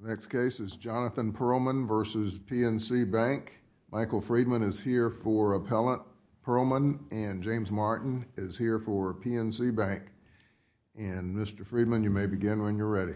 The next case is Jonathan Perlman v. PNC Bank. Michael Friedman is here for Appellant Perlman and James Martin is here for PNC Bank. And Mr. Friedman, you may begin when you're ready.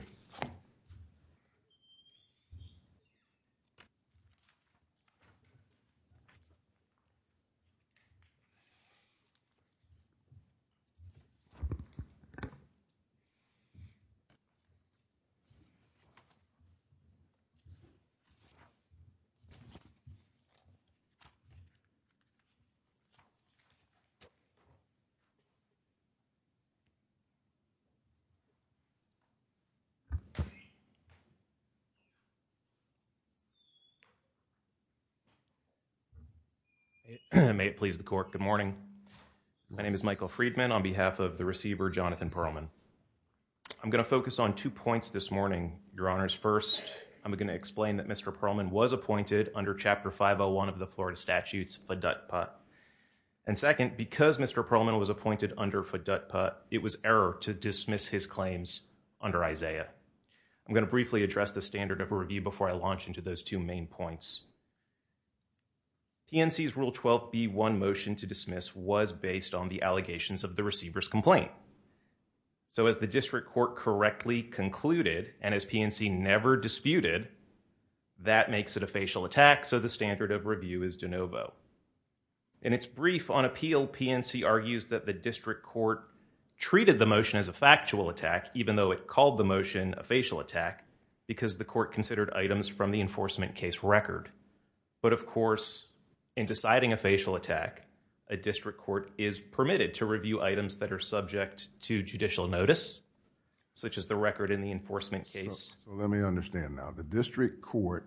May it please the Court, good morning. My name is Michael Friedman on behalf of the receiver Jonathan Perlman. I'm going to focus on two points this morning, Your Honors. First, I'm going to explain that Mr. Perlman was appointed under Chapter 501 of the Florida Statutes, FDUTPA. And second, because Mr. Perlman was appointed under FDUTPA, it was an error to dismiss his claims under ISAIAH. I'm going to briefly address the standard of review before I launch into those two main points. PNC's Rule 12b1 motion to dismiss was based on the allegations of the receiver's complaint. So as the district court correctly concluded and as PNC never disputed, that makes it a facial attack, so the standard of review is de novo. In its brief on appeal, PNC argues that the district court treated the motion as a factual attack even though it called the motion a facial attack because the court considered items from the enforcement case record. But of course, in deciding a facial attack, a district court is permitted to review items that are subject to judicial notice such as the record in the enforcement case. So let me understand now. The district court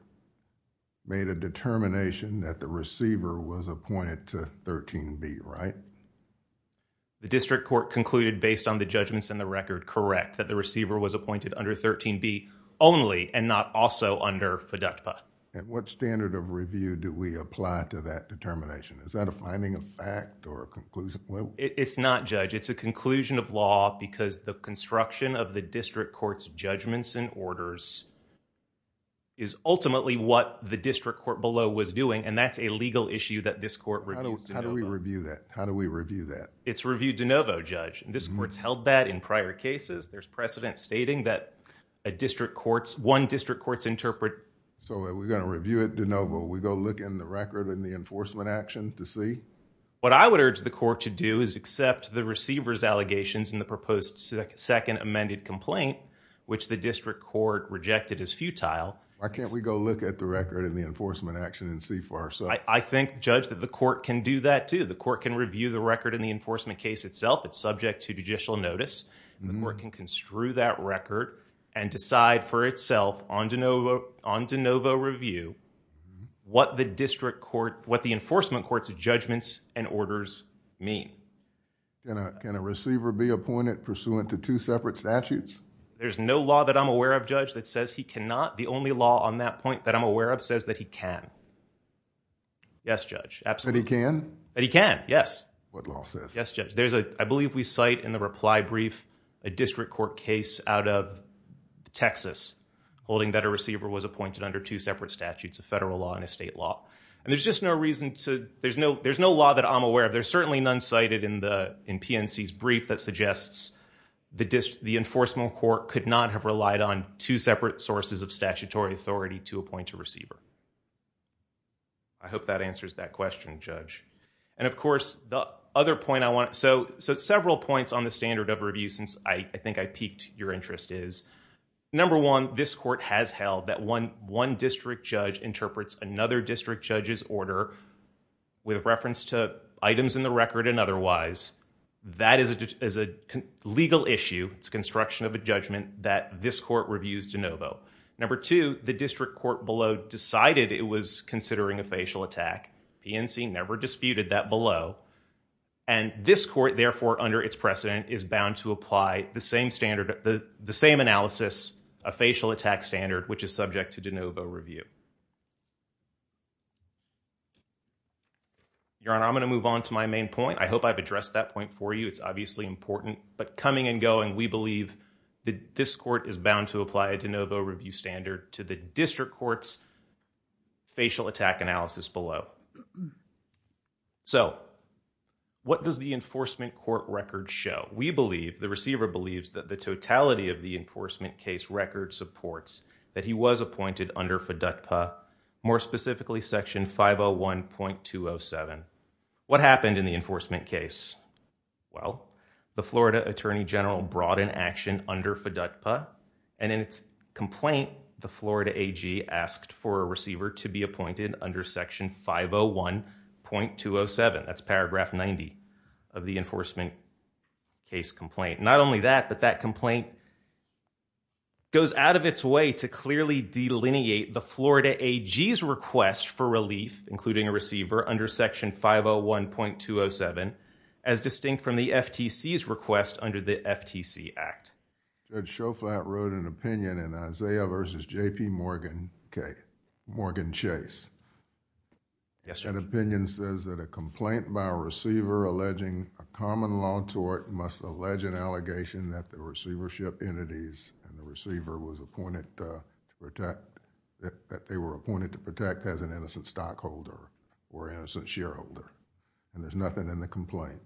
made a determination that the receiver was appointed under 13b only and not also under FDUTPA. At what standard of review do we apply to that determination? Is that a finding of fact or a conclusion? It's not, Judge. It's a conclusion of law because the construction of the district court's judgments and orders is ultimately what the district court below was doing and that's a legal issue that this court reviews de novo. How do we review that? How do we review that? It's reviewed de novo, Judge. This court's held that in prior cases. There's precedent stating that a district court's... one district court's interpret... So are we going to review it de novo? Are we going to look in the record in the enforcement action to see? What I would urge the court to do is accept the receiver's allegations in the proposed second amended complaint which the district court rejected as futile... Why can't we go look at the record in the enforcement action and see for ourselves? I think, Judge, that the court can do that too. The court can review the record in the enforcement case itself. It's subject to judicial notice. The court can construe that record and decide for itself on de novo review what the district court... what the enforcement court's judgments and orders mean. Can a receiver be appointed pursuant to two separate statutes? There's no law that I'm aware of, Judge, that says he cannot. The only law on that point that I'm aware of says that he can. Yes, Judge. Absolutely. That he can? That he can. Yes. What law says? Yes, Judge. There's a... I believe we cite in the reply brief a district court case out of Texas holding that a receiver was appointed under two separate statutes, a federal law and a state law. And there's just no reason to... there's no law that I'm aware of. There's certainly none cited in the... in PNC's brief that suggests the enforcement court could not have relied on two separate sources of statutory authority to appoint a receiver. I hope that answers that question, Judge. And of course, the other point I want... so several points on the standard of review since I think I piqued your interest is, number one, this court has held that one district judge interprets another district judge's order with reference to items in the record and otherwise. That is a legal issue. It's a construction of a judgment that this court reviews DeNovo. Number two, the district court below decided it was considering a facial attack. PNC never disputed that below. And this court, therefore, under its precedent, is bound to apply the same standard... the same analysis, a facial attack standard, which is subject to DeNovo review. Your Honor, I'm going to move on to my main point. I hope I've addressed that point for you. It's obviously important. But coming and going, we believe that this court is bound to apply a DeNovo review standard to the district court's facial attack analysis below. So what does the enforcement court record show? We believe... the receiver believes that the totality of the enforcement case record supports that he was appointed under FDUTPA, more specifically Section 501.207. What happened in the enforcement case? Well, the Florida Attorney General brought an action under FDUTPA, and in its complaint, the Florida AG asked for a receiver to be appointed under Section 501.207. That's paragraph 90 of the enforcement case complaint. Not only that, but that complaint goes out of its way to clearly delineate the Florida AG's request for relief, including a receiver, under Section 501.207, as distinct from the FTC's request under the FTC Act. Judge Schofflat wrote an opinion in Isaiah v. J.P. Morgan Chase. That opinion says that a complaint by a receiver alleging a common law tort must allege an allegation that the receivership entities and the receiver was appointed to protect... that they were appointed to protect as an innocent stockholder or innocent shareholder. And there's nothing in the complaint.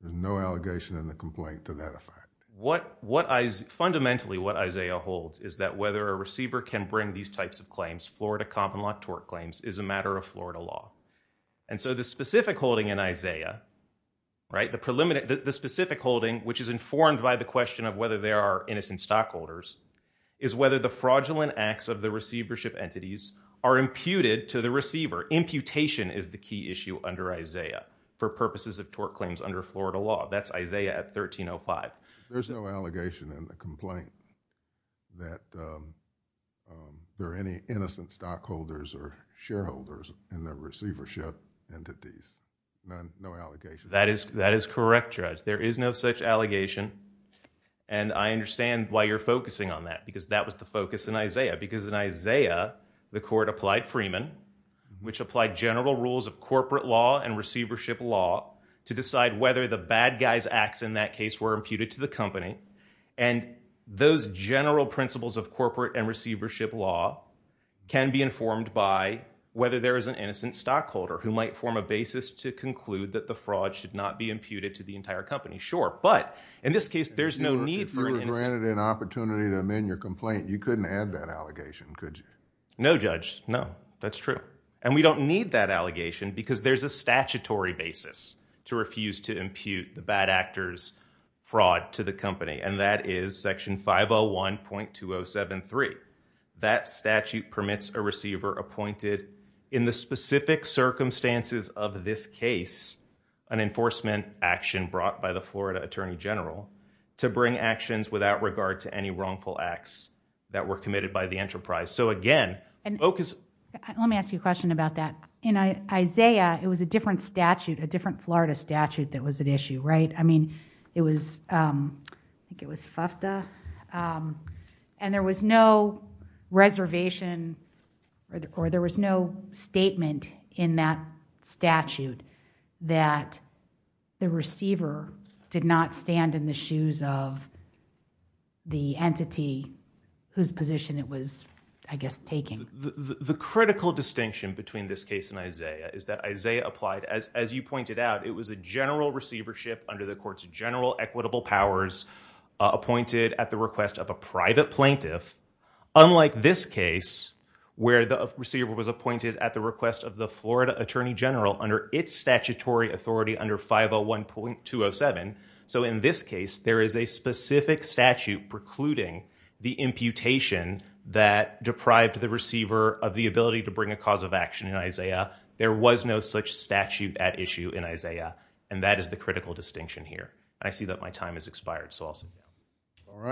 There's no allegation in the complaint to that effect. What I... fundamentally what Isaiah holds is that whether a receiver can bring these types of claims, Florida common law tort claims, is a matter of Florida law. And so the specific holding in Isaiah, right, the specific holding, which is informed by the question of whether there are innocent stockholders, is whether the fraudulent acts of the receivership entities are imputed to the receiver. Imputation is the key issue under Isaiah for purposes of tort claims under Florida law. That's Isaiah at 1305. There's no allegation in the complaint that there are any innocent stockholders or shareholders in the receivership entities. None. No allegations. That is correct, Judge. There is no such allegation. And I understand why you're focusing on that, because that was the focus in Isaiah. Because in Isaiah, the court applied Freeman, which applied general rules of corporate law and receivership law, to decide whether the bad guy's acts in that case were imputed to the company. And those general principles of corporate and receivership law can be informed by whether there is an innocent stockholder who might form a basis to conclude that the fraud should not be imputed to the entire company. Sure. But in this case, there's no need for an opportunity to amend your complaint. You couldn't add that allegation, could you? No, Judge. No, that's true. And we don't need that allegation because there's a statutory basis to refuse to impute the bad actor's fraud to the company. And that is Section 501.2073. That statute permits a receiver appointed in the specific circumstances of this case, an enforcement action brought by the Florida Attorney General to bring actions without regard to any wrongful acts that were committed by the enterprise. So again, focus. Let me ask you a question about that. In Isaiah, it was a different statute, a different Florida statute that was at issue, right? I mean, it was, I think it was FFTA. And there was no reservation or there was no statement in that statute that the receiver did not stand in the shoes of the entity whose position it was, I guess, taking. The critical distinction between this case and Isaiah is that Isaiah applied, as you pointed out, it was a general receivership under the court's general equitable powers appointed at the request of a private plaintiff. Unlike this case, where the receiver was appointed at the request of the Florida Attorney General under its statutory authority under 501.207. So in this case, there is a specific statute precluding the imputation that deprived the receiver of the ability to bring a cause of action in Isaiah. There was no such statute at issue in Isaiah. And that is the critical distinction here. And I see that my time has expired, so I'll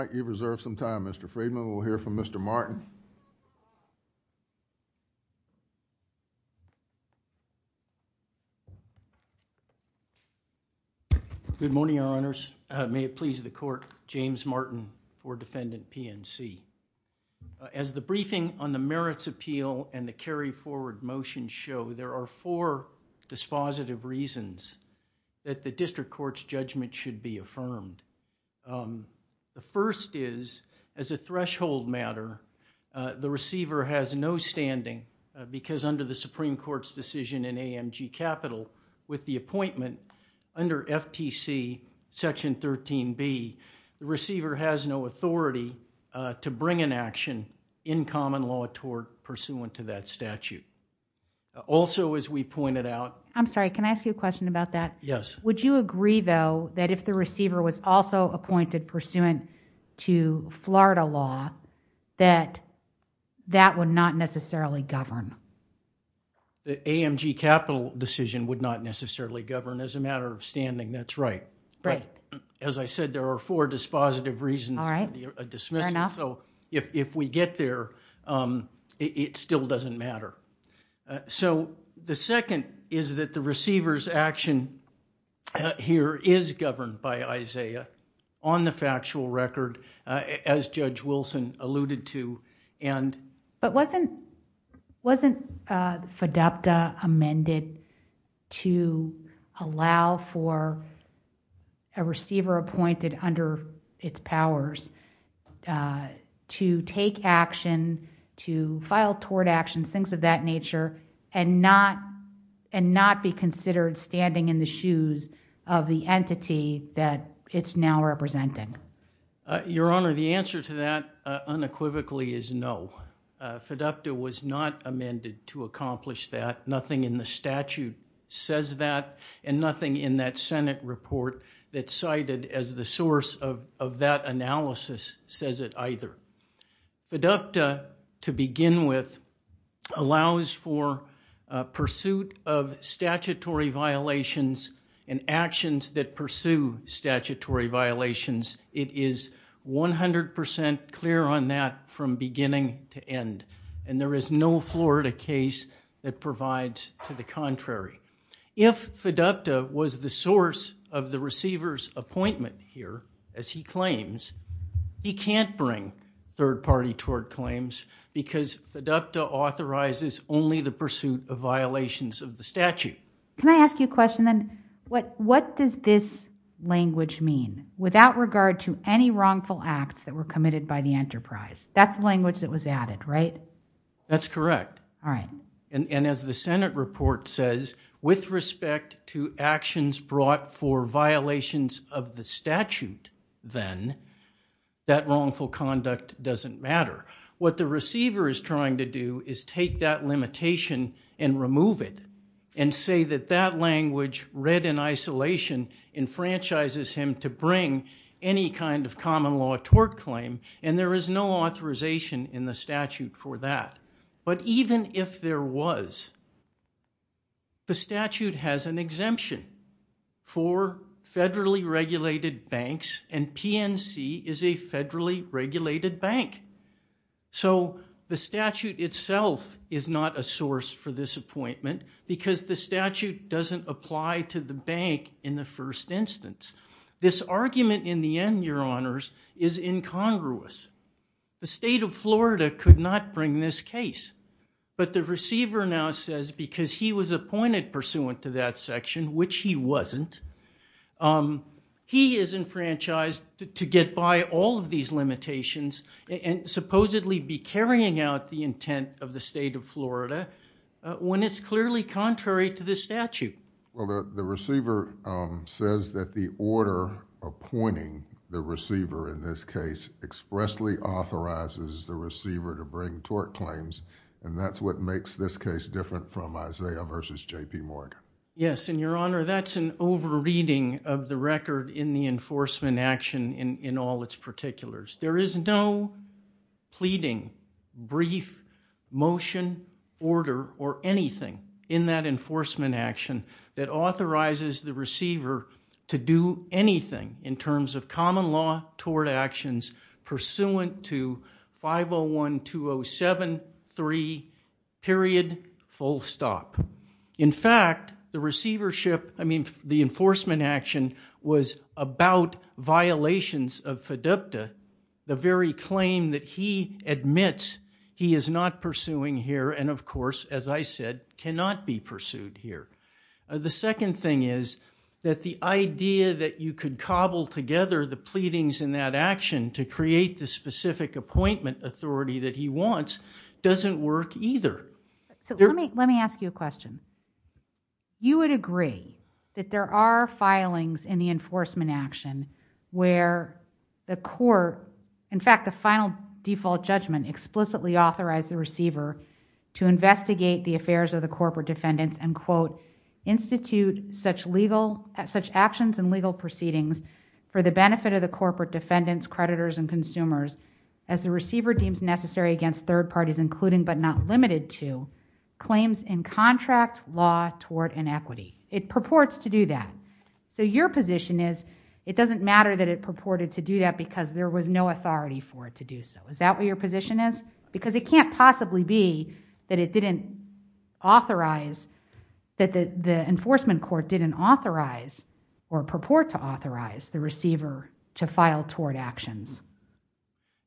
reserve some time. Mr. Friedman, we'll hear from Mr. Martin. Good morning, Your Honors. May it please the court, James Martin for Defendant PNC. As the briefing on the merits appeal and the carry forward motion show, there are four dispositive reasons that the district court's judgment should be affirmed. The first is, as a threshold matter, the receiver has no standing because under the Supreme Court's decision in AMG Capital with the appointment under FTC Section 13B, the receiver has no authority to bring an action in common law toward pursuant to that statute. Also, as we pointed out... I'm sorry, can I ask you a question about that? Yes. Would you agree, though, that if the receiver was also appointed pursuant to Florida law, that that would not necessarily govern? The AMG Capital decision would not necessarily govern as a matter of standing, that's right. But as I said, there are four dispositive reasons for a dismissal. So if we get there, it still doesn't matter. The second is that the receiver's action here is governed by ISAIAH on the factual record as Judge Wilson alluded to. Wasn't FDAPTA amended to allow for a receiver of that nature and not be considered standing in the shoes of the entity that it's now representing? Your Honor, the answer to that unequivocally is no. FDAPTA was not amended to accomplish that. Nothing in the statute says that and nothing in that Senate report that's cited as the source of that analysis says it either. FDAPTA, to begin with, allows for pursuit of statutory violations and actions that pursue statutory violations. It is 100% clear on that from beginning to end. And there is no Florida case that provides to the contrary. If FDAPTA was the source of the receiver's claims, he can't bring third party toward claims because FDAPTA authorizes only the pursuit of violations of the statute. Can I ask you a question then? What does this language mean without regard to any wrongful acts that were committed by the enterprise? That's the language that was added, right? That's correct. And as the Senate report says, with respect to actions brought for violations of the statute then that wrongful conduct doesn't matter. What the receiver is trying to do is take that limitation and remove it and say that that language read in isolation enfranchises him to bring any kind of common law toward claim and there is no authorization in the statute for that. But even if there was, the statute has an exemption for federally regulated banks and PNC is a federally regulated bank. So the statute itself is not a source for this appointment because the statute doesn't apply to the bank in the first instance. This argument in the end, your honors, is incongruous. The state of Florida could not bring this case but the receiver now says because he was appointed pursuant to that section, which he wasn't, he is enfranchised to get by all of these limitations and supposedly be carrying out the intent of the state of Florida when it's clearly contrary to the statute. The receiver says that the order appointing the receiver in this case expressly authorizes the receiver to bring tort claims and that's what makes this case different from Isaiah v. J.P. Morgan. Yes, and your honor, that's an over reading of the record in the enforcement action in all its particulars. There is no pleading, brief, motion, order, or anything in that enforcement action that authorizes the receiver to do anything in terms of common law tort actions pursuant to 501.207.3. Full stop. In fact, the enforcement action was about violations of FDUPTA, the very claim that he admits he is not pursuing here and of course, as I said, cannot be pursued here. The second thing is that the idea that you could cobble together the pleadings in that action to create the specific appointment authority that he wants doesn't work either. Let me ask you a question. You would agree that there are filings in the enforcement action where the court, in fact, the final default judgment explicitly authorized the receiver to investigate the affairs of the corporate defendants and quote, institute such actions and legal proceedings for the benefit of the corporate defendants, creditors and consumers as the receiver deems necessary against third parties including but not limited to claims in contract law tort and equity. It purports to do that. Your position is it doesn't matter that it purported to do that because there was no authority for it to do so. Is that what your position is? Because it can't possibly be that it didn't authorize that the enforcement court didn't authorize or purport to authorize the receiver to file tort actions.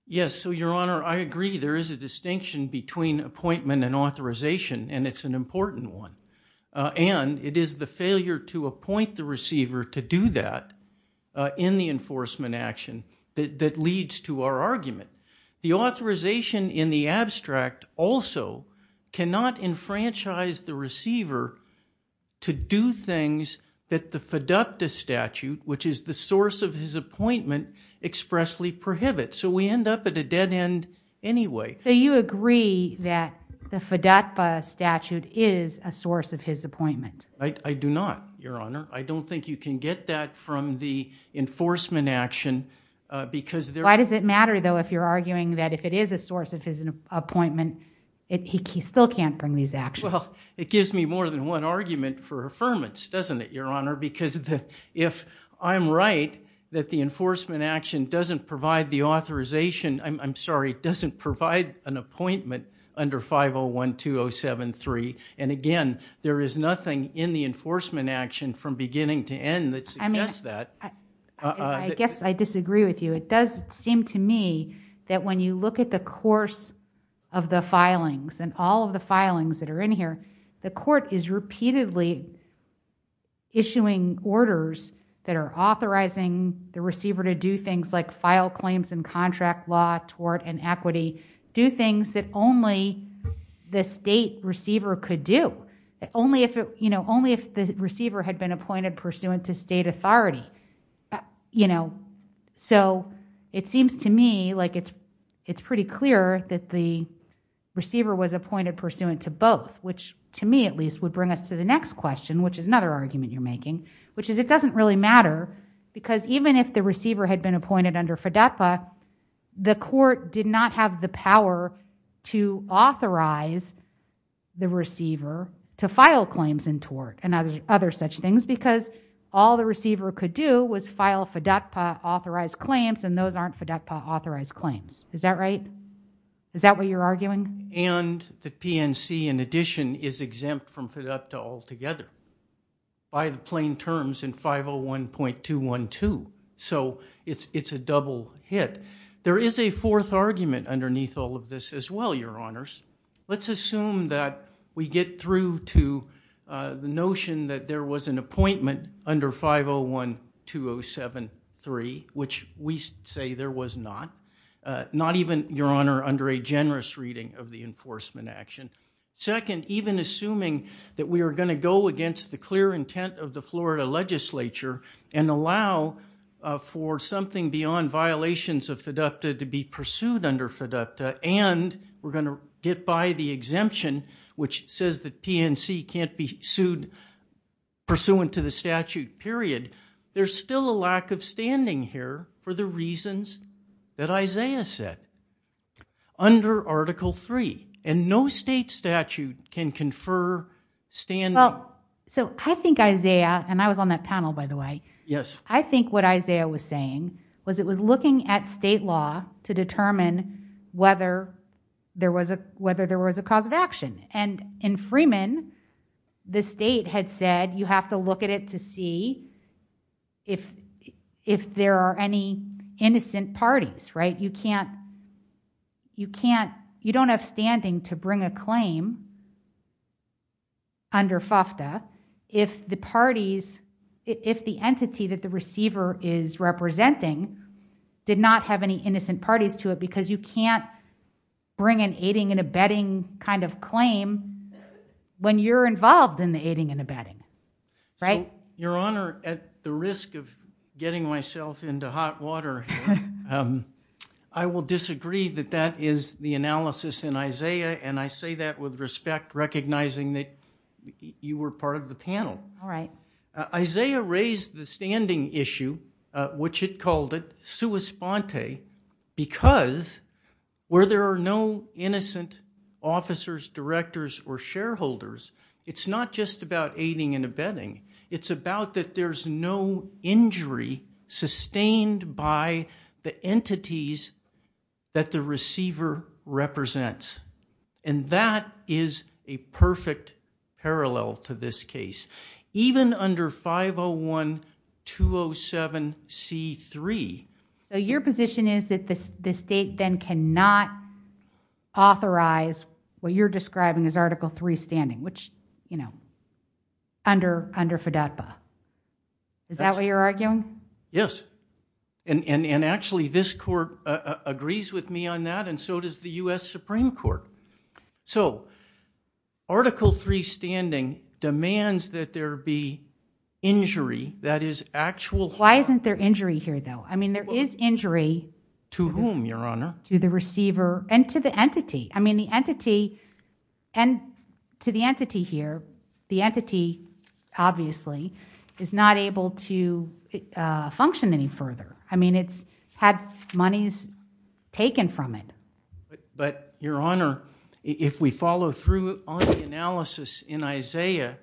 Yes. So, your honor, I agree there is a distinction between appointment and authorization and it's an important one. And it is the failure to appoint the receiver to do that in the enforcement action that leads to our argument. The authorization in the abstract also cannot enfranchise the receiver to do things that the FDUCTA statute, which is the source of his appointment, expressly prohibits. So, we end up at a dead end anyway. So, you agree that the FDUCTA statute is a source of his appointment? I do not, your honor. I don't think you can get that from the enforcement action because there Why does it matter, though, if you're arguing that if it is a source of his appointment, he still can't bring these actions? Well, it gives me more than one argument for affirmance, doesn't it, your honor? Because if I'm right, that the enforcement action doesn't provide the authorization, I'm sorry, doesn't provide an appointment under 5012073. And again, there is nothing in the enforcement action from beginning to end that suggests that. I mean, I guess I disagree with you. It does seem to me that when you look at the course of the filings and all of the filings that are in here, the court is repeatedly issuing orders that are authorizing the receiver to do things like file claims and contract law, tort and equity, do things that only the state receiver could do, only if the receiver had been appointed pursuant to state authority. So, it seems to me like it's pretty clear that the receiver was appointed pursuant to both, which to me, at least, would bring us to the next question, which is another argument you're making, which is it doesn't really matter because even if the receiver had been appointed under FDOTPA, the court did not have the power to authorize the receiver to file claims in tort and other such things because all the receiver could do was file FDOTPA authorized claims and those aren't FDOTPA authorized claims. Is that right? Is that what you're arguing? And the PNC, in addition, is exempt from FDOTPA altogether by the plain terms in 501.212. So, it's a double hit. There is a fourth argument underneath all of this as well, your honors. Let's assume that we get through to the notion that there was an appointment under 501.207.3, which we say there was not. Not even, your honor, under a generous reading of the enforcement action. Second, even assuming that we are going to go against the clear intent of the Florida legislature and allow for something beyond violations of FDOTPA to be pursued under FDOTPA and we're going to get by the exemption, which says that PNC can't be sued pursuant to the statute, period. There's still a lack of standing here for the reasons that Isaiah said under Article III and no state statute can confer standing. Well, so I think Isaiah, and I was on that panel, by the way. Yes. I think what Isaiah was saying was it was looking at state law to determine whether there was a cause of action. And in Freeman, the state had said you have to look at it to see if there are any innocent parties, right? You don't have standing to bring a claim under FFTA if the entity that the receiver is representing did not have any innocent parties to it because you can't bring an aiding and abetting kind of claim when you're involved in the aiding and abetting, right? Your honor, at the risk of getting myself into hot water, I will disagree that that is the analysis in Isaiah. And I say that with respect, recognizing that you were part of the panel. All right. Isaiah raised the standing issue, which he called it sua sponte, because where there are no innocent officers, directors, or shareholders, it's not just about aiding and abetting. It's about that there's no injury sustained by the entities that the receiver represents. And that is a perfect parallel to this case, even under 501-207-C3. So your position is that the state then cannot authorize what you're describing as Article III standing, which, you know, under FDOTPA. Is that what you're arguing? Yes. And actually, this court agrees with me on that, and so does the U.S. Supreme Court. So Article III standing demands that there be injury that is actual. Why isn't there injury here, though? I mean, there is injury. To whom, your honor? To the receiver and to the entity. I mean, the entity and to the entity here, the entity, obviously, is not able to function any further. I mean, it's had monies taken from it. But your honor, if we follow through on the analysis in Isaiah,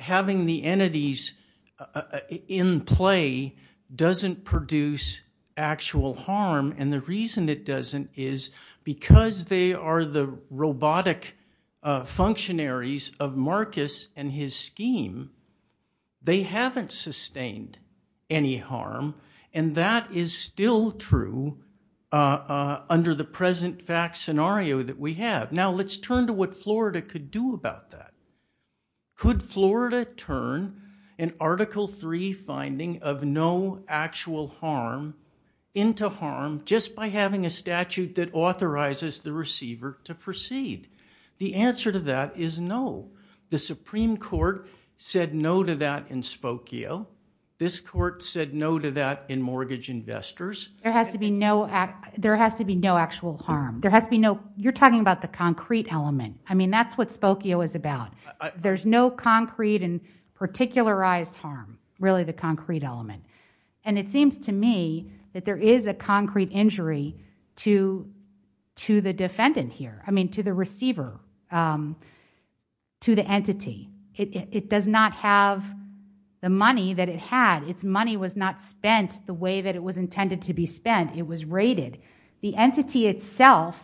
having the entities in play doesn't produce actual harm. And the reason it doesn't is because they are the scheme. They haven't sustained any harm, and that is still true under the present fact scenario that we have. Now, let's turn to what Florida could do about that. Could Florida turn an Article III finding of no actual harm into harm just by having a statute that authorizes the receiver to proceed? The answer to that is no. The Supreme Court said no to that in Spokio. This court said no to that in Mortgage Investors. There has to be no actual harm. You're talking about the concrete element. I mean, that's what Spokio is about. There's no concrete and particularized harm, really, the concrete element. And it seems to me that there is a concrete injury to the defendant here, I mean, to the receiver, to the entity. It does not have the money that it had. Its money was not spent the way that it was intended to be spent. It was raided. The entity itself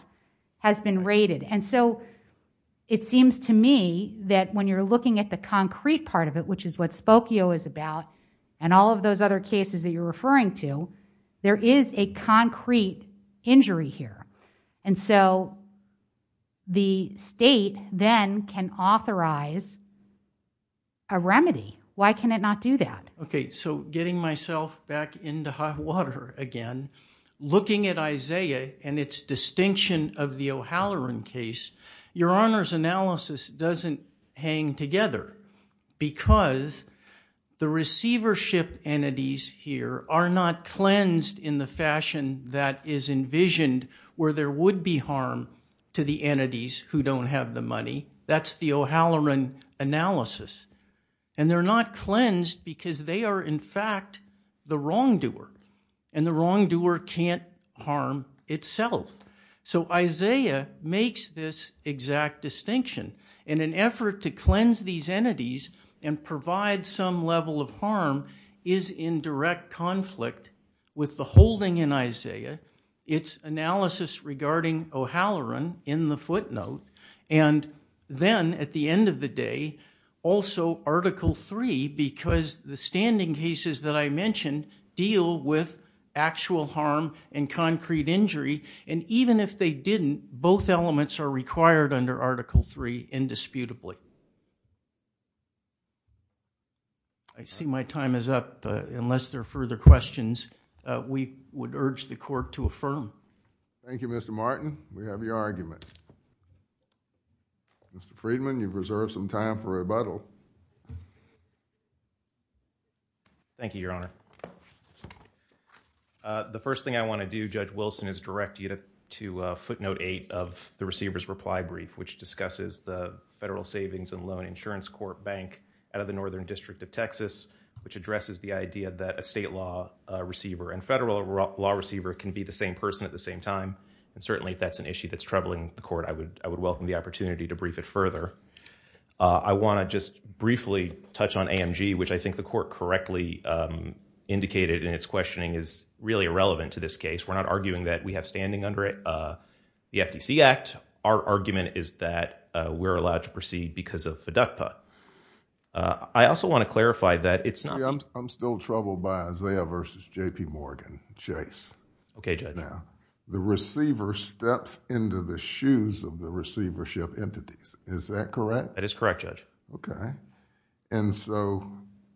has been raided. And so, it seems to me that when you're looking at the and all of those other cases that you're referring to, there is a concrete injury here. And so, the state then can authorize a remedy. Why can it not do that? Okay. So, getting myself back into hot water again, looking at Isaiah and its distinction of the O'Halloran case, Your Honor's analysis doesn't hang together because the receivership entities here are not cleansed in the fashion that is envisioned where there would be harm to the entities who don't have the money. That's the O'Halloran analysis. And they're not cleansed because they are, in fact, the wrongdoer. And the wrongdoer can't itself. So, Isaiah makes this exact distinction. In an effort to cleanse these entities and provide some level of harm is in direct conflict with the holding in Isaiah, its analysis regarding O'Halloran in the footnote, and then at the end of the day, also Article 3 because the standing cases that I mentioned deal with actual harm and concrete injury. And even if they didn't, both elements are required under Article 3 indisputably. I see my time is up. Unless there are further questions, we would urge the court to affirm. Thank you, Mr. Martin. We have your argument. Mr. Friedman, you've reserved some time for rebuttal. Thank you, Your Honor. The first thing I want to do, Judge Wilson, is direct you to footnote 8 of the receiver's reply brief, which discusses the Federal Savings and Loan Insurance Court Bank out of the Northern District of Texas, which addresses the idea that a state law receiver and federal law receiver can be the same person at the same time. And certainly, if that's an issue that's troubling the court, I would welcome the opportunity to brief it further. I want to just briefly touch on AMG, which I think the court correctly indicated in its questioning is really irrelevant to this case. We're not arguing that we have standing under the FTC Act. Our argument is that we're allowed to proceed because of FDUCPA. I also want to clarify that it's not— I'm still troubled by Isaiah versus J.P. Morgan, Chase. Okay, Judge. The receiver steps into the shoes of the receivership entities. Is that correct? That is correct, Judge. Okay. And so,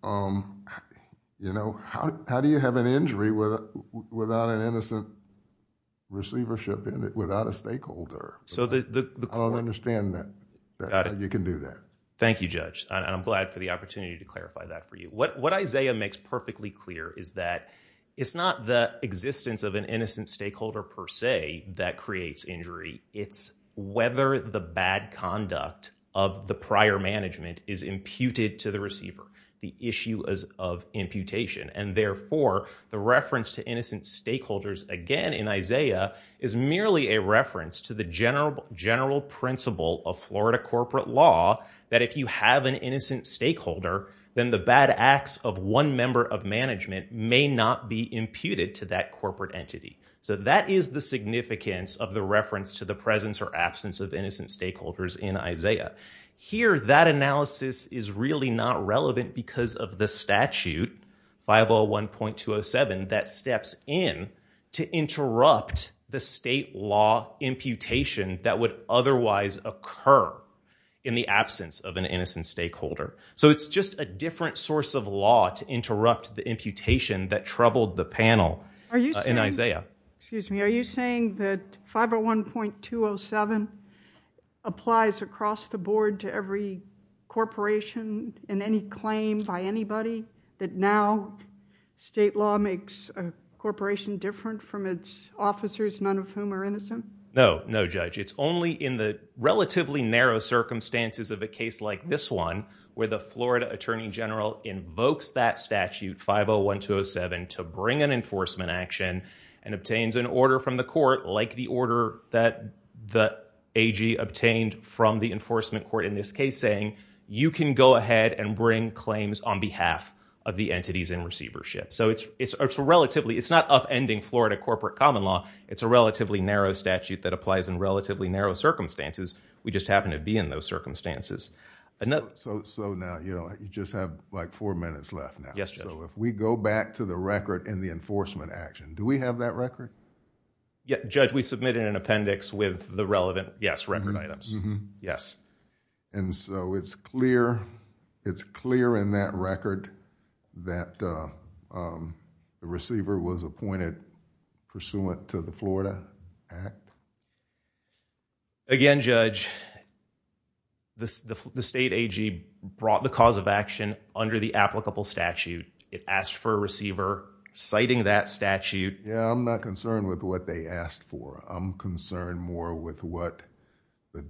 you know, how do you have an injury without an innocent receivership—without a stakeholder? I don't understand that. You can do that. Thank you, Judge. I'm glad for the opportunity to clarify that for you. What Isaiah makes perfectly clear is that it's not the existence of an innocent stakeholder, per se, that creates injury. It's whether the bad conduct of the prior management is imputed to the receiver. The issue is of imputation. And therefore, the reference to innocent stakeholders, again, in Isaiah is merely a reference to the general principle of Florida corporate law that if you have an innocent stakeholder, then the bad acts of one member of management may not be imputed to that corporate entity. So that is the significance of the reference to the presence or absence of innocent stakeholders in Isaiah. Here, that analysis is really not relevant because of the statute, 501.207, that steps in to interrupt the state law imputation that would otherwise occur in the absence of an innocent stakeholder. So it's just a different source of law to interrupt the imputation that troubled the panel in Isaiah. Excuse me. Are you saying that 501.207 applies across the board to every corporation in any claim by anybody that now state law makes a corporation different from its officers, none of whom are innocent? No, no, Judge. It's only in the relatively narrow circumstances of a case like this one, where the Florida attorney general invokes that statute, 501.207, to bring an enforcement action and obtains an order from the court, like the order that the AG obtained from the enforcement court in this case, saying, you can go ahead and bring claims on behalf of the entities in receivership. So it's relatively, it's not upending Florida corporate common law. It's a relatively narrow statute that applies in relatively narrow circumstances. We just happen to be in those circumstances. So now, you just have like four minutes left now. Yes, Judge. So if we go back to the record in the enforcement action, do we have that record? Yeah, Judge, we submitted an appendix with the relevant, yes, record items. Yes. And so it's clear, it's clear in that record that the receiver was appointed pursuant to the Florida Act. Again, Judge, the state AG brought the cause of action under the applicable statute. It asked for a receiver citing that statute. Yeah, I'm not concerned with what they asked for. I'm concerned more with what the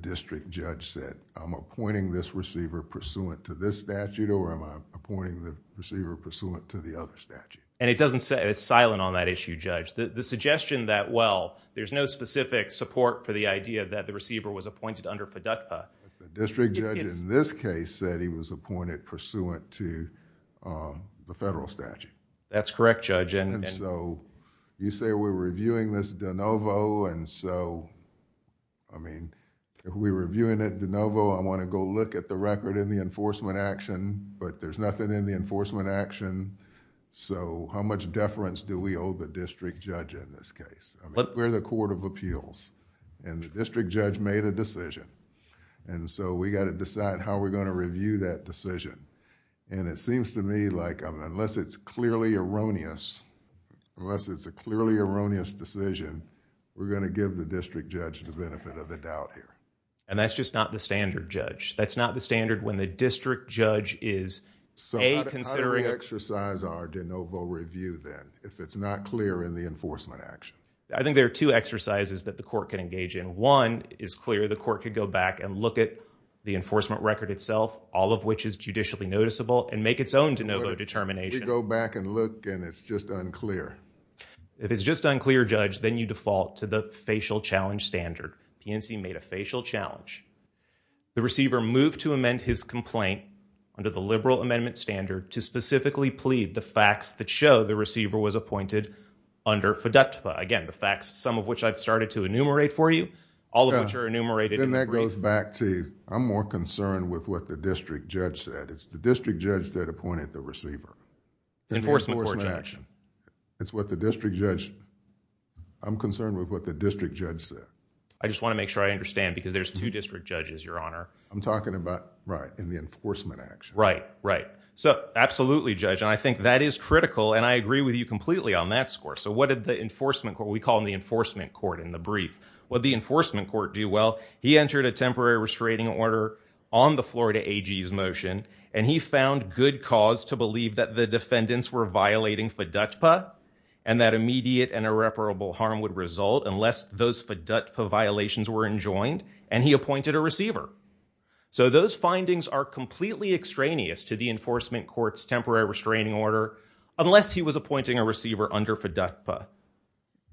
district judge said. I'm appointing this receiver pursuant to this statute, or am I appointing the receiver pursuant to the other statute? And it doesn't say, it's silent on that issue, Judge. The suggestion that, well, there's no specific support for the idea that the receiver was appointed under PDUCPA. But the district judge in this case said he was appointed pursuant to the federal statute. That's correct, Judge. And so, you say we're reviewing this de novo, and so, I mean, if we're reviewing it de novo, I want to go look at the record in the enforcement action, but there's nothing in the enforcement action. So, how much deference do we owe the district judge in this case? I mean, we're the Court of Appeals, and the district judge made a decision. And so, we got to decide how we're going to review that decision. And it seems to me like unless it's clearly erroneous, unless it's a clearly erroneous decision, we're going to give the district judge the benefit of the doubt here. And that's just not the standard, Judge. That's not the standard when the district judge is, A, considering... So, how do we exercise our de novo review, then, if it's not clear in the enforcement action? I think there are two exercises that the court can engage in. One is clear the court could go back and look at the enforcement record itself, all of which is judicially noticeable, and make its own de novo determination. We go back and look, and it's just unclear. If it's just unclear, Judge, then you default to the facial challenge standard. PNC made a facial challenge. The receiver moved to amend his complaint under the liberal amendment standard to specifically plead the facts that show the receiver was appointed under feducta. Again, the facts, some of which I've started to enumerate for you, all of which are enumerated... Then that goes back to, I'm more concerned with what the district judge said. It's the district judge that appointed the receiver. Enforcement action. It's what the district judge... I'm concerned with what the district judge said. I just want to make sure I understand, because there's two district judges, Your Honor. I'm talking about, right, in the enforcement action. Right, right. So, absolutely, Judge. And I think that is critical, and I agree with you completely on that score. So what did the enforcement... we call them the enforcement court in the brief. What did the enforcement court do? Well, he entered a temporary restraining order on the Florida AG's motion, and he found good cause to believe that the defendants were violating feducta, and that immediate and irreparable harm would result, unless those feducta violations were enjoined, and he appointed a receiver. So those findings are completely extraneous to the enforcement court's temporary restraining order, unless he was appointing a receiver under feducta.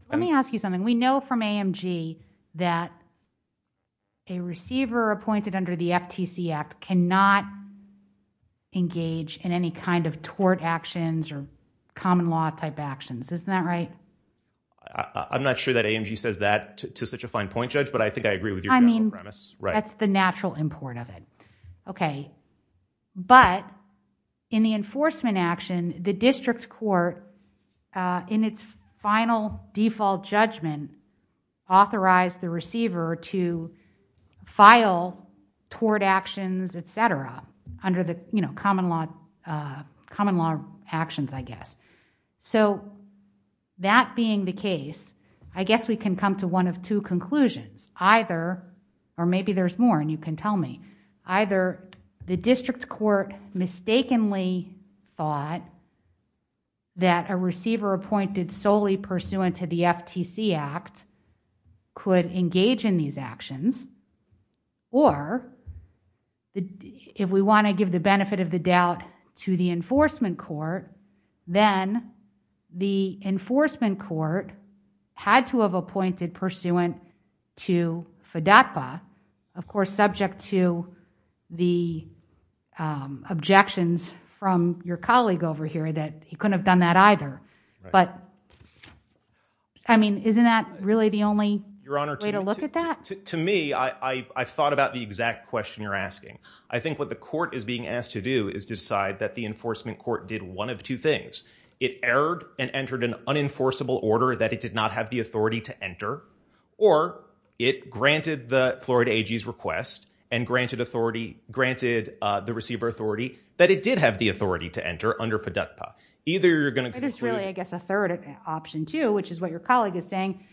Let me ask you something. We know from AMG that a receiver appointed under the FTC Act cannot engage in any kind of tort actions or common law type actions. Isn't that right? I'm not sure that AMG says that to such a fine point, Judge, but I think I agree with your general premise. That's the natural import of it. Okay. But in the enforcement action, the district court, in its final default judgment, authorized the receiver to file tort actions, et cetera. Under the common law actions, I guess. So that being the case, I guess we can come to one of two conclusions. Or maybe there's more, and you can tell me. Either the district court mistakenly thought that a receiver appointed solely pursuant to the FTC Act could engage in these actions, or if we want to give the benefit of the doubt to the enforcement court, then the enforcement court had to have appointed pursuant to feducta, of course, subject to the objections from your colleague over here that he couldn't have done that either. But I mean, isn't that really the only way to look at that? To me, I've thought about the exact question you're asking. I think what the court is being asked to do is to decide that the enforcement court did one of two things. It erred and entered an unenforceable order that it did not have the authority to enter, or it granted the Florida AG's request and granted the receiver authority that it did have the authority to enter under feducta. Either you're going to- There's really, I guess, a third option too, which is what your colleague is saying.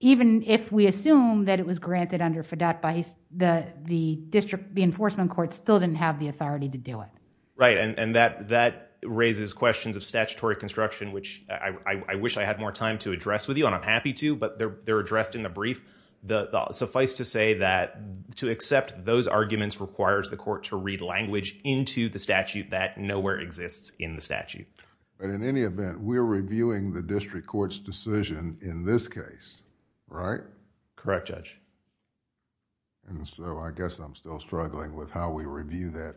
Even if we assume that it was granted under feducta, the enforcement court still didn't have the authority to do it. Right, and that raises questions of statutory construction, which I wish I had more time to address with you, and I'm happy to, but they're addressed in the brief. Suffice to say that to accept those arguments requires the court to read language into the statute. But in any event, we're reviewing the district court's decision in this case, right? Correct, Judge. And so, I guess I'm still struggling with how we review that,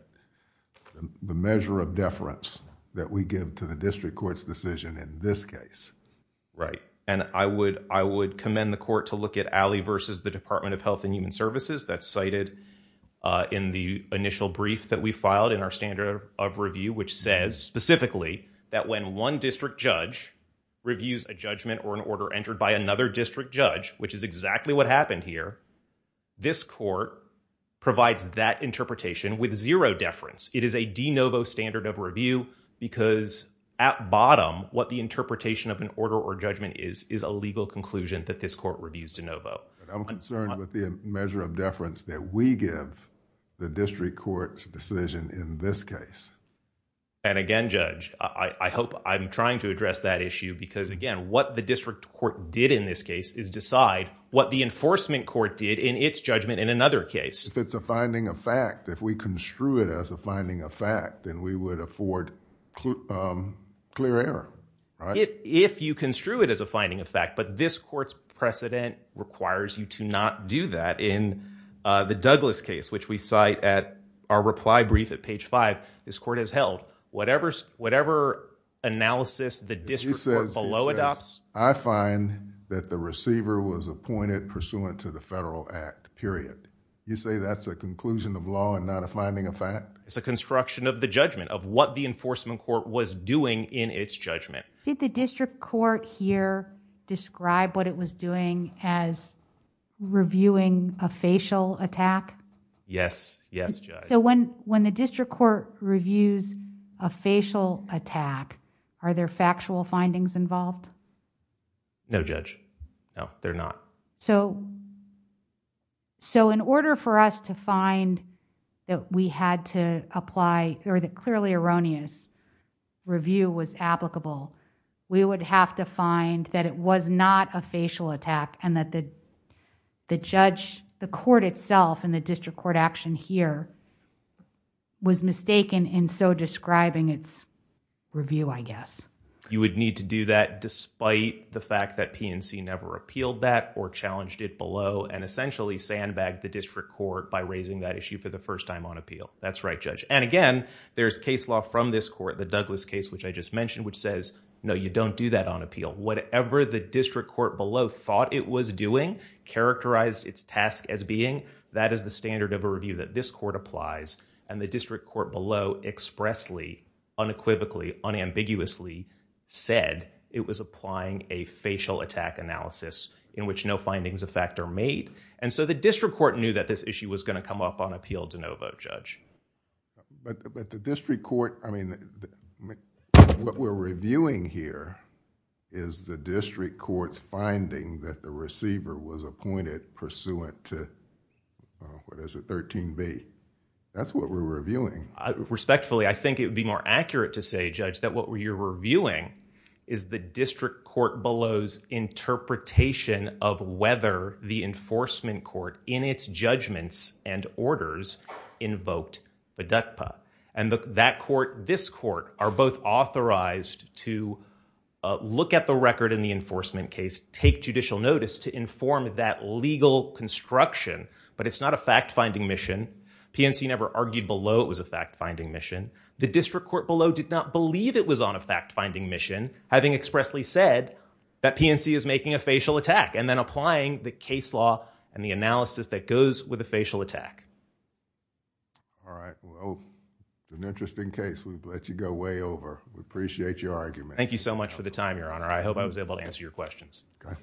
the measure of deference that we give to the district court's decision in this case. Right, and I would commend the court to look at Alley versus the Department of Health and Human Services. That's cited in the initial brief that we filed in our standard of review, which says specifically that when one district judge reviews a judgment or an order entered by another district judge, which is exactly what happened here, this court provides that interpretation with zero deference. It is a de novo standard of review because at bottom, what the interpretation of an order or judgment is, is a legal conclusion that this court reviews de novo. I'm concerned with the measure of deference that we give the district court's decision in this case. And again, Judge, I hope I'm trying to address that issue because, again, what the district court did in this case is decide what the enforcement court did in its judgment in another case. If it's a finding of fact, if we construe it as a finding of fact, then we would afford clear error, right? If you construe it as a finding of fact, but this court's precedent requires you to not do that. In the Douglas case, which we cite at our reply brief at page five, this court has held whatever analysis the district court below adopts. She says, I find that the receiver was appointed pursuant to the federal act, period. You say that's a conclusion of law and not a finding of fact? It's a construction of the judgment of what the enforcement court was doing in its judgment. Did the district court here describe what it was doing as reviewing a facial attack? Yes. Yes, Judge. So when the district court reviews a facial attack, are there factual findings involved? No, Judge. No, there are not. So in order for us to find that we had to apply or that clearly erroneous review was applicable, we would have to find that it was not a facial attack and that the court itself and the district court action here was mistaken in so describing its review, I guess. You would need to do that despite the fact that PNC never appealed that or challenged it below and essentially sandbagged the district court by raising that issue for the first time on appeal. That's right, Judge. And again, there's case law from this court, the Douglas case, which I just mentioned, which says, no, you don't do that on appeal. Whatever the district court below thought it was doing, characterized its task as being, that is the standard of a review that this court applies. And the district court below expressly, unequivocally, unambiguously said it was applying a facial attack analysis in which no findings of fact are made. And so the district court knew that this issue was going to come up on appeal. But the district court, I mean, what we're reviewing here is the district court's finding that the receiver was appointed pursuant to, what is it, 13B. That's what we're reviewing. Respectfully, I think it would be more accurate to say, Judge, that what you're reviewing is the district court below's interpretation of whether the enforcement court, in its judgments and orders, invoked FDUCPA. And that court, this court, are both authorized to look at the record in the enforcement case, take judicial notice to inform that legal construction. But it's not a fact-finding mission. PNC never argued below it was a fact-finding mission. The district court below did not believe it was on a fact-finding mission, having expressly said that PNC is making a facial attack and then applying the case law and the analysis that goes with a facial attack. All right. Well, it's an interesting case. We'll let you go way over. We appreciate your argument. Thank you so much for the time, Your Honor. I hope I was able to answer your questions. Okay.